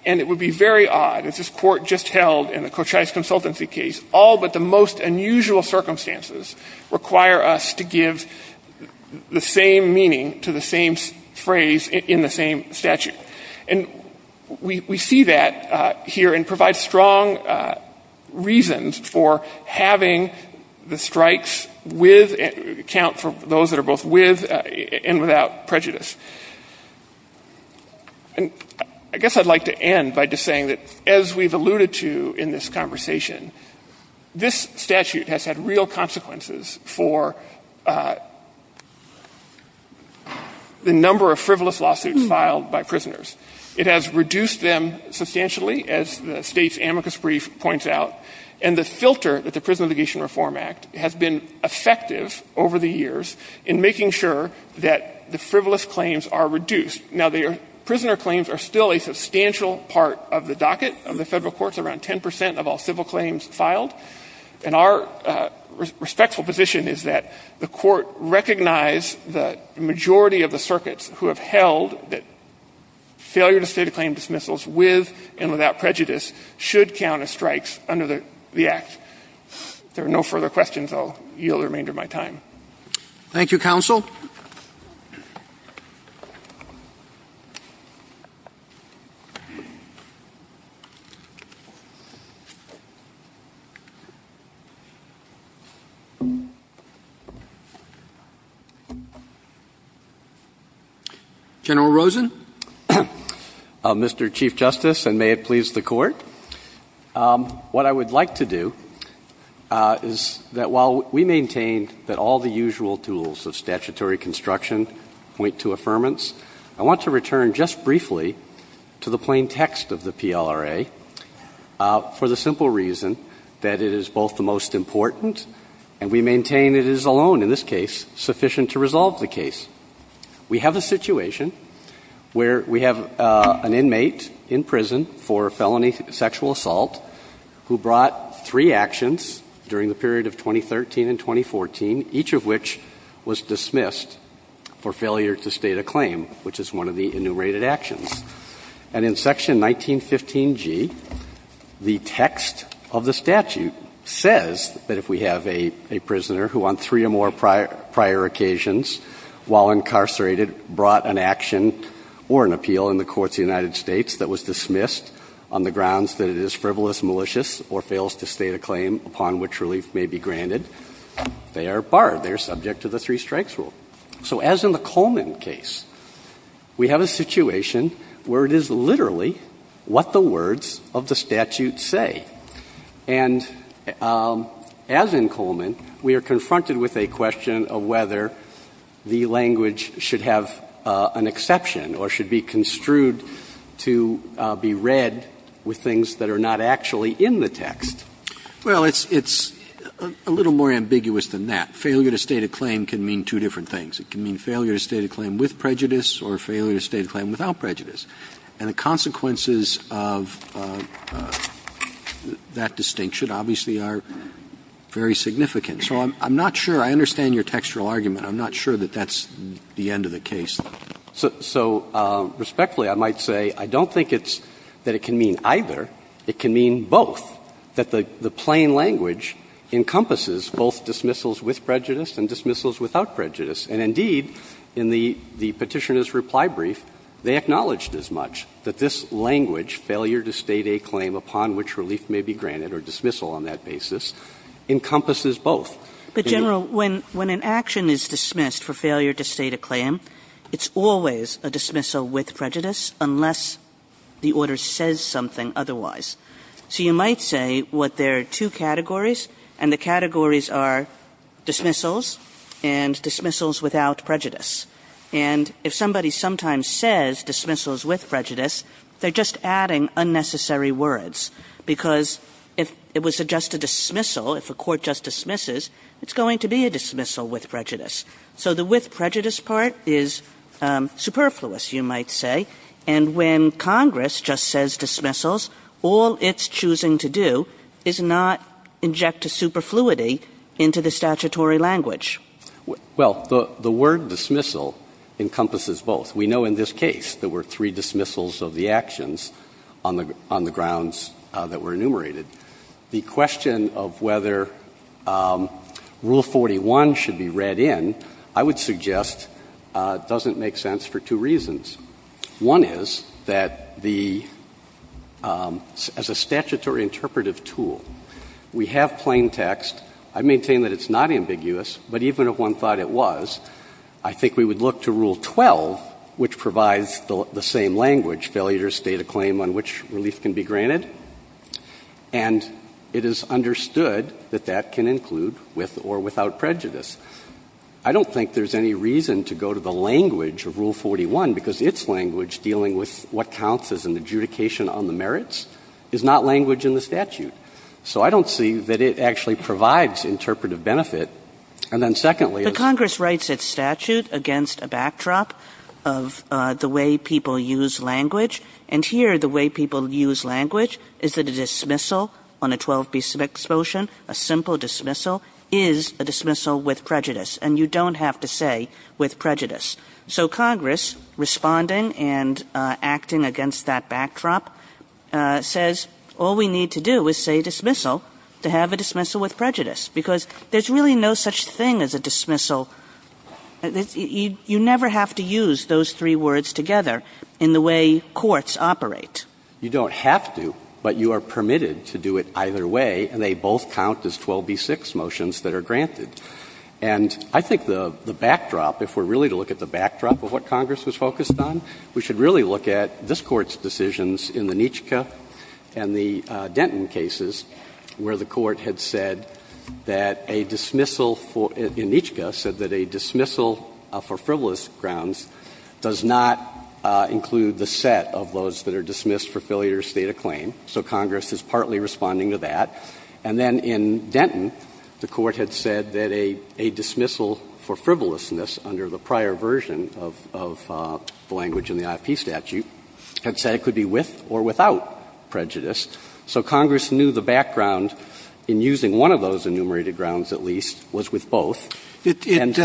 And it would be very odd, as this Court just held in the Kochai's consultancy case, all but the most unusual circumstances require us to give the same meaning to the same phrase in the same statute. And we see that here and provide strong reasons for having the strikes with, account for those that are both with and without prejudice. And I guess I'd like to end by just saying that, as we've alluded to in this conversation, this statute has had real consequences for the number of frivolous lawsuits filed by prisoners. It has reduced them substantially, as the State's amicus brief points out. And the filter that the Prison Obligation Reform Act has been effective over the years in making sure that the frivolous claims are reduced. Now, the prisoner claims are still a substantial part of the docket of the Federal Courts, around 10% of all civil claims filed. And our respectful position is that the Court recognize the majority of the circuits who have held that failure to state a claim dismissals with and without prejudice should count as strikes under the Act. If there are no further questions, I'll yield the remainder of my time. Thank you, Counsel. General Rosen. Mr. Chief Justice, and may it please the Court. What I would like to do is that while we maintain that all the usual tools of statutory construction point to affirmance. I want to return just briefly to the plain text of the PLRA for the simple reason that it is both the most important, and we maintain it is alone in this case sufficient to resolve the case. We have a situation where we have an inmate in prison for felony sexual assault, who brought three actions during the period of 2013 and 2014, each of which was dismissed for failure to state a claim, which is one of the enumerated actions. And in section 1915G, the text of the statute says that if we have a prisoner who on three or more prior occasions, while incarcerated, brought an action or an appeal in the courts of the United States that was dismissed on the grounds that it is frivolous, malicious, or fails to state a claim upon which relief may be granted, they are barred. They are subject to the three strikes rule. So as in the Coleman case, we have a situation where it is literally what the words of the statute say. And as in Coleman, we are confronted with a question of whether the language should have an exception or should be construed to be read with things that are not actually in the text. Well, it's a little more ambiguous than that. Failure to state a claim can mean two different things. It can mean failure to state a claim with prejudice or failure to state a claim without prejudice. And the consequences of that distinction obviously are very significant. So I'm not sure. I understand your textual argument. I'm not sure that that's the end of the case. So respectfully, I might say I don't think it's that it can mean either. It can mean both, that the plain language encompasses both dismissals with prejudice and dismissals without prejudice. And indeed, in the Petitioner's reply brief, they acknowledged as much, that this language, failure to state a claim upon which relief may be granted or dismissal on that basis, encompasses both. Kagan. Kagan. Kagan. Kagan. Kagan. Kagan. Kagan. Kagan. Kagan. Kagan. Kagan. So you might say, what, there are two categories. And the categories are dismissals and dismissals without prejudice. And if somebody sometimes says dismissals with prejudice, they're just adding unnecessary words. Because if it was just a dismissal, if a court just dismisses. It's going to be a dismissal with prejudice. So the with prejudice part, is superfluous, you might say. And when Congress just says dismissals, all it's choosing to do is not inject a superfluity into the statutory language. Well, the word dismissal encompasses both. We know in this case there were three dismissals of the actions on the grounds that were enumerated. The question of whether Rule 41 should be read in, I would suggest, doesn't make sense for two reasons. One is that the, as a statutory interpretive tool, we have plain text. I maintain that it's not ambiguous. But even if one thought it was, I think we would look to Rule 12, which provides the same language, failure to state a claim on which relief can be granted. And it is understood that that can include with or without prejudice. I don't think there's any reason to go to the language of Rule 41, because its language dealing with what counts as an adjudication on the merits is not language in the statute. So I don't see that it actually provides interpretive benefit. And then secondly, is the statute against a backdrop of the way people use language. And here, the way people use language is that a dismissal on a 12b6 motion, a simple dismissal, is a dismissal with prejudice. And you don't have to say with prejudice. So Congress, responding and acting against that backdrop, says all we need to do is say dismissal to have a dismissal with prejudice, because there's really no such thing as a dismissal. You never have to use those three words together in the way courts operate. You don't have to, but you are permitted to do it either way, and they both count as 12b6 motions that are granted. And I think the backdrop, if we're really to look at the backdrop of what Congress was focused on, we should really look at this Court's decisions in the Nietzsche and the Denton cases, where the Court had said that a dismissal for — in Nietzsche said that a dismissal for frivolous grounds does not include the set of those that are dismissed for failure to state a claim, so Congress is partly responding to that. And then in Denton, the Court had said that a dismissal for frivolousness under the prior version of the language in the IFP statute had said it could be with or without prejudice. So Congress knew the background in using one of those enumerated grounds, at least, was with both. And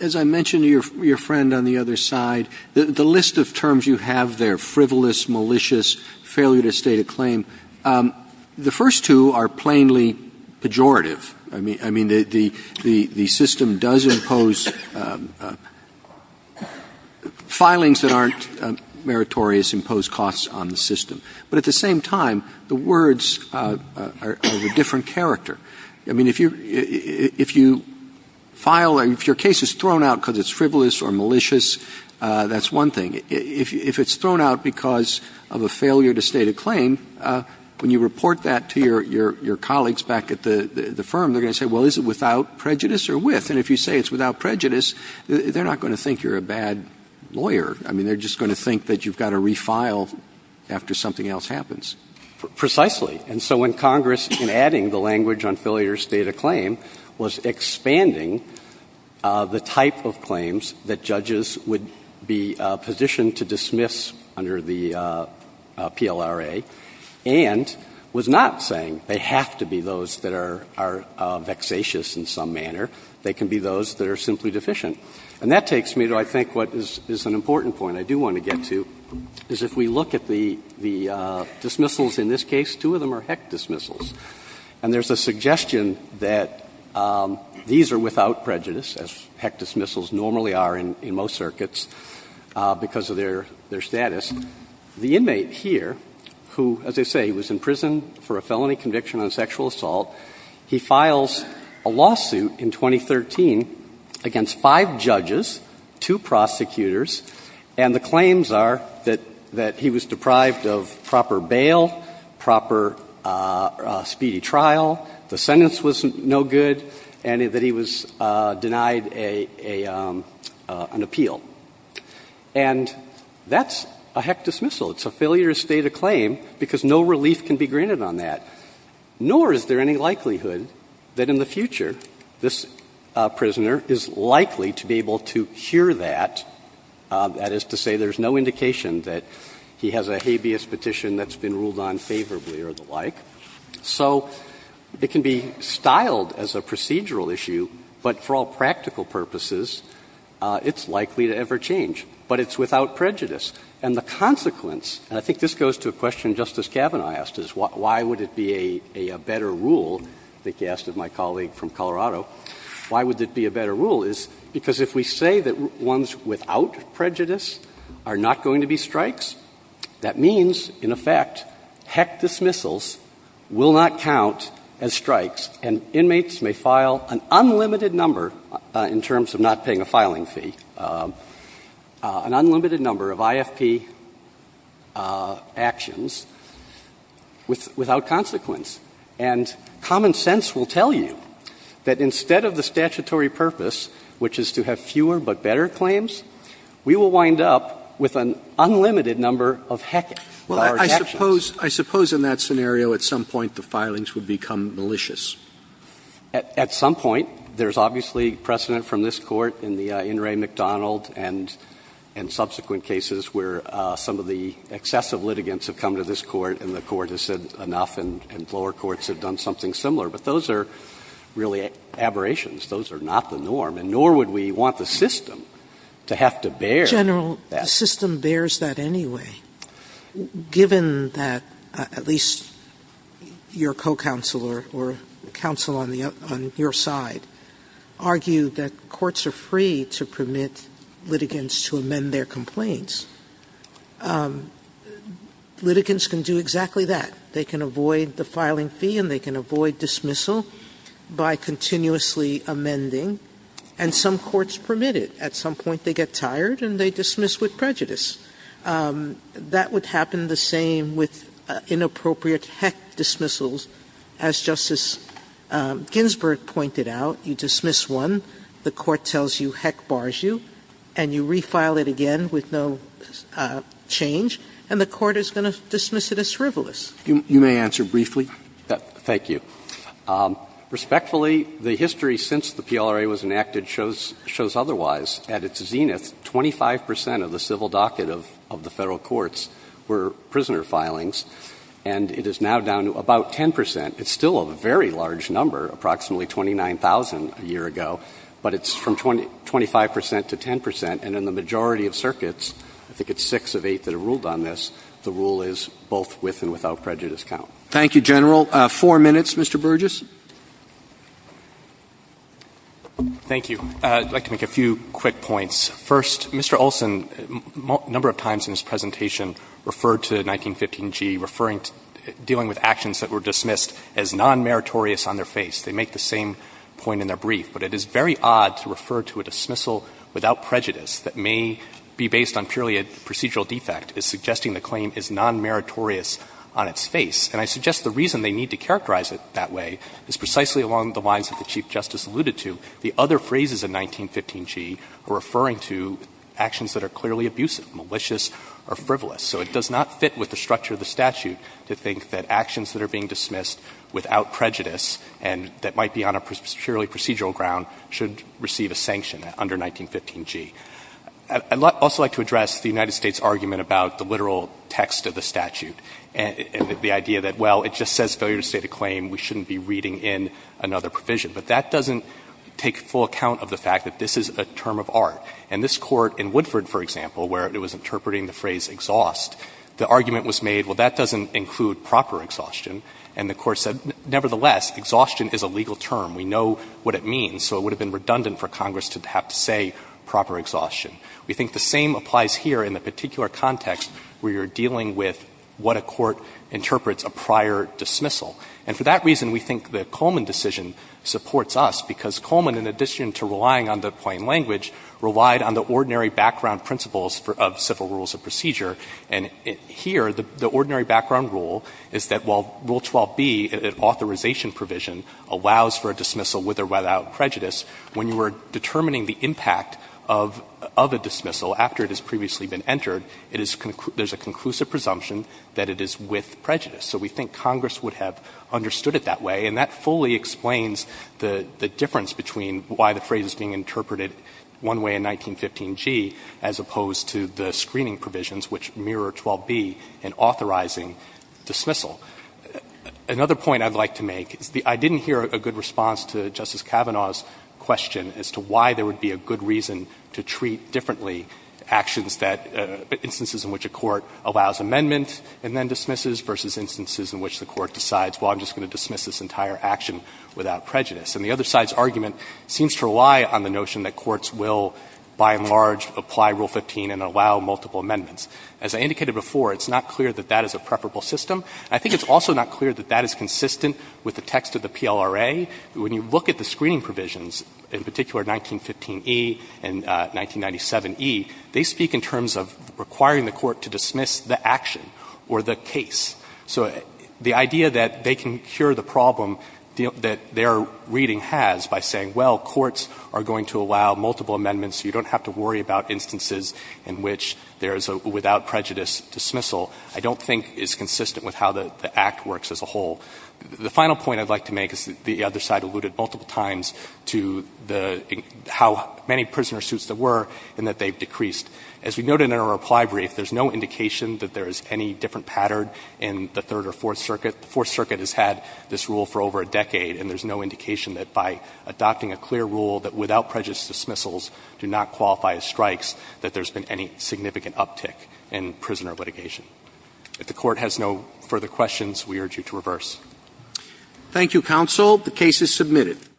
as I mentioned to your friend on the other side, the list of terms you have there, frivolous, malicious, failure to state a claim, the first two are plainly pejorative. I mean, the system does impose filings that aren't meritorious, impose costs on the system. But at the same time, the words are of a different character. I mean, if you file — if your case is thrown out because it's frivolous or malicious, that's one thing. If it's thrown out because of a failure to state a claim, when you report that to your colleagues back at the firm, they're going to say, well, is it without prejudice or with? And if you say it's without prejudice, they're not going to think you're a bad lawyer. I mean, they're just going to think that you've got to refile after something else happens. Precisely. And so when Congress, in adding the language on failure to state a claim, was expanding the type of claims that judges would be positioned to dismiss under the PLRA, and was not saying they have to be those that are vexatious in some manner, they can be those that are simply deficient. And that takes me to, I think, what is an important point I do want to get to, is if we look at the dismissals in this case, two of them are heck dismissals. And there's a suggestion that these are without prejudice, as heck dismissals normally are in most circuits, because of their status. The inmate here, who, as I say, was in prison for a felony conviction on sexual assault, he files a lawsuit in 2013 against five judges, two prosecutors, and the claims are that he was deprived of proper bail, proper state protection, and he was denied a speedy trial, the sentence was no good, and that he was denied a — an appeal. And that's a heck dismissal. It's a failure to state a claim because no relief can be granted on that, nor is there any likelihood that in the future this prisoner is likely to be able to hear that, that is to say there's no indication that he has a habeas petition that's been ruled on favorably or the like. So it can be styled as a procedural issue, but for all practical purposes, it's likely to ever change, but it's without prejudice. And the consequence, and I think this goes to a question Justice Kavanaugh asked, is why would it be a better rule, I think he asked of my colleague from Colorado, why would it be a better rule is because if we say that ones without prejudice are not going to be strikes, that means, in effect, heck dismissals will not count as strikes and inmates may file an unlimited number, in terms of not paying a filing fee, an unlimited number of IFP actions without consequence. And common sense will tell you that instead of the statutory purpose, which is to have fewer but better claims, we will wind up with an unlimited number of heck-hours actions. So I suppose in that scenario, at some point, the filings would become malicious. At some point, there's obviously precedent from this Court in the In re Macdonald and subsequent cases where some of the excessive litigants have come to this Court and the Court has said enough and lower courts have done something similar, but those are really aberrations. Those are not the norm, and nor would we want the system to have to bear that. Sotomayor, the general system bears that anyway, given that at least your co-counsel or counsel on your side argue that courts are free to permit litigants to amend their complaints. Litigants can do exactly that. They can avoid the filing fee and they can avoid dismissal by continuously amending, and some courts permit it. At some point, they get tired and they dismiss with prejudice. That would happen the same with inappropriate heck dismissals. As Justice Ginsburg pointed out, you dismiss one, the Court tells you heck bars you, and you refile it again with no change, and the Court is going to dismiss it as frivolous. You may answer briefly. Thank you. Respectfully, the history since the PLRA was enacted shows otherwise. At its zenith, 25 percent of the civil docket of the Federal courts were prisoner filings, and it is now down to about 10 percent. It's still a very large number, approximately 29,000 a year ago, but it's from 25 percent to 10 percent, and in the majority of circuits, I think it's six of eight that have ruled on this, the rule is both with and without prejudice count. Thank you, General. Four minutes, Mr. Burgess. Thank you. I'd like to make a few quick points. First, Mr. Olson, a number of times in his presentation referred to 1915g, referring to dealing with actions that were dismissed as nonmeritorious on their face. They make the same point in their brief, but it is very odd to refer to a dismissal without prejudice that may be based on purely a procedural defect as suggesting the claim is nonmeritorious on its face. And I suggest the reason they need to characterize it that way is precisely along the lines that the Chief Justice alluded to. The other phrases in 1915g are referring to actions that are clearly abusive, malicious, or frivolous. So it does not fit with the structure of the statute to think that actions that are being dismissed without prejudice and that might be on a purely procedural ground should receive a sanction under 1915g. I'd also like to address the United States' argument about the literal text of the statute and the idea that, well, it just says failure to state a claim, we shouldn't be reading in another provision. But that doesn't take full account of the fact that this is a term of art. And this Court in Woodford, for example, where it was interpreting the phrase exhaust, the argument was made, well, that doesn't include proper exhaustion. And the Court said, nevertheless, exhaustion is a legal term. We know what it means, so it would have been redundant for Congress to have to say proper exhaustion. We think the same applies here in the particular context where you're dealing with what a court interprets a prior dismissal. And for that reason, we think the Coleman decision supports us, because Coleman, in addition to relying on the plain language, relied on the ordinary background principles of civil rules of procedure. And here, the ordinary background rule is that while Rule 12b, an authorization provision, allows for a dismissal with or without prejudice, when you are determining the impact of a dismissal after it has previously been entered, it is conclu – there's a conclusive presumption that it is with prejudice. So we think Congress would have understood it that way, and that fully explains the difference between why the phrase is being interpreted one way in 1915g as opposed to the screening provisions, which mirror 12b in authorizing dismissal. Another point I'd like to make is the – I didn't hear a good response to Justice Sotomayor's argument that there might be a good reason to treat differently actions that – instances in which a court allows amendment and then dismisses versus instances in which the court decides, well, I'm just going to dismiss this entire action without prejudice. And the other side's argument seems to rely on the notion that courts will, by and large, apply Rule 15 and allow multiple amendments. As I indicated before, it's not clear that that is a preferable system. I think it's also not clear that that is consistent with the text of the PLRA. When you look at the screening provisions, in particular 1915e and 1997e, they speak in terms of requiring the court to dismiss the action or the case. So the idea that they can cure the problem that their reading has by saying, well, courts are going to allow multiple amendments, you don't have to worry about instances in which there is a without prejudice dismissal, I don't think is consistent with how the Act works as a whole. The final point I'd like to make is that the other side alluded multiple times to the – how many prisoner suits there were and that they've decreased. As we noted in our reply brief, there's no indication that there is any different pattern in the Third or Fourth Circuit. The Fourth Circuit has had this rule for over a decade, and there's no indication that by adopting a clear rule that without prejudice dismissals do not qualify as strikes, that there's been any significant uptick in prisoner litigation. If the Court has no further questions, we urge you to reverse. Roberts. Thank you, counsel. The case is submitted.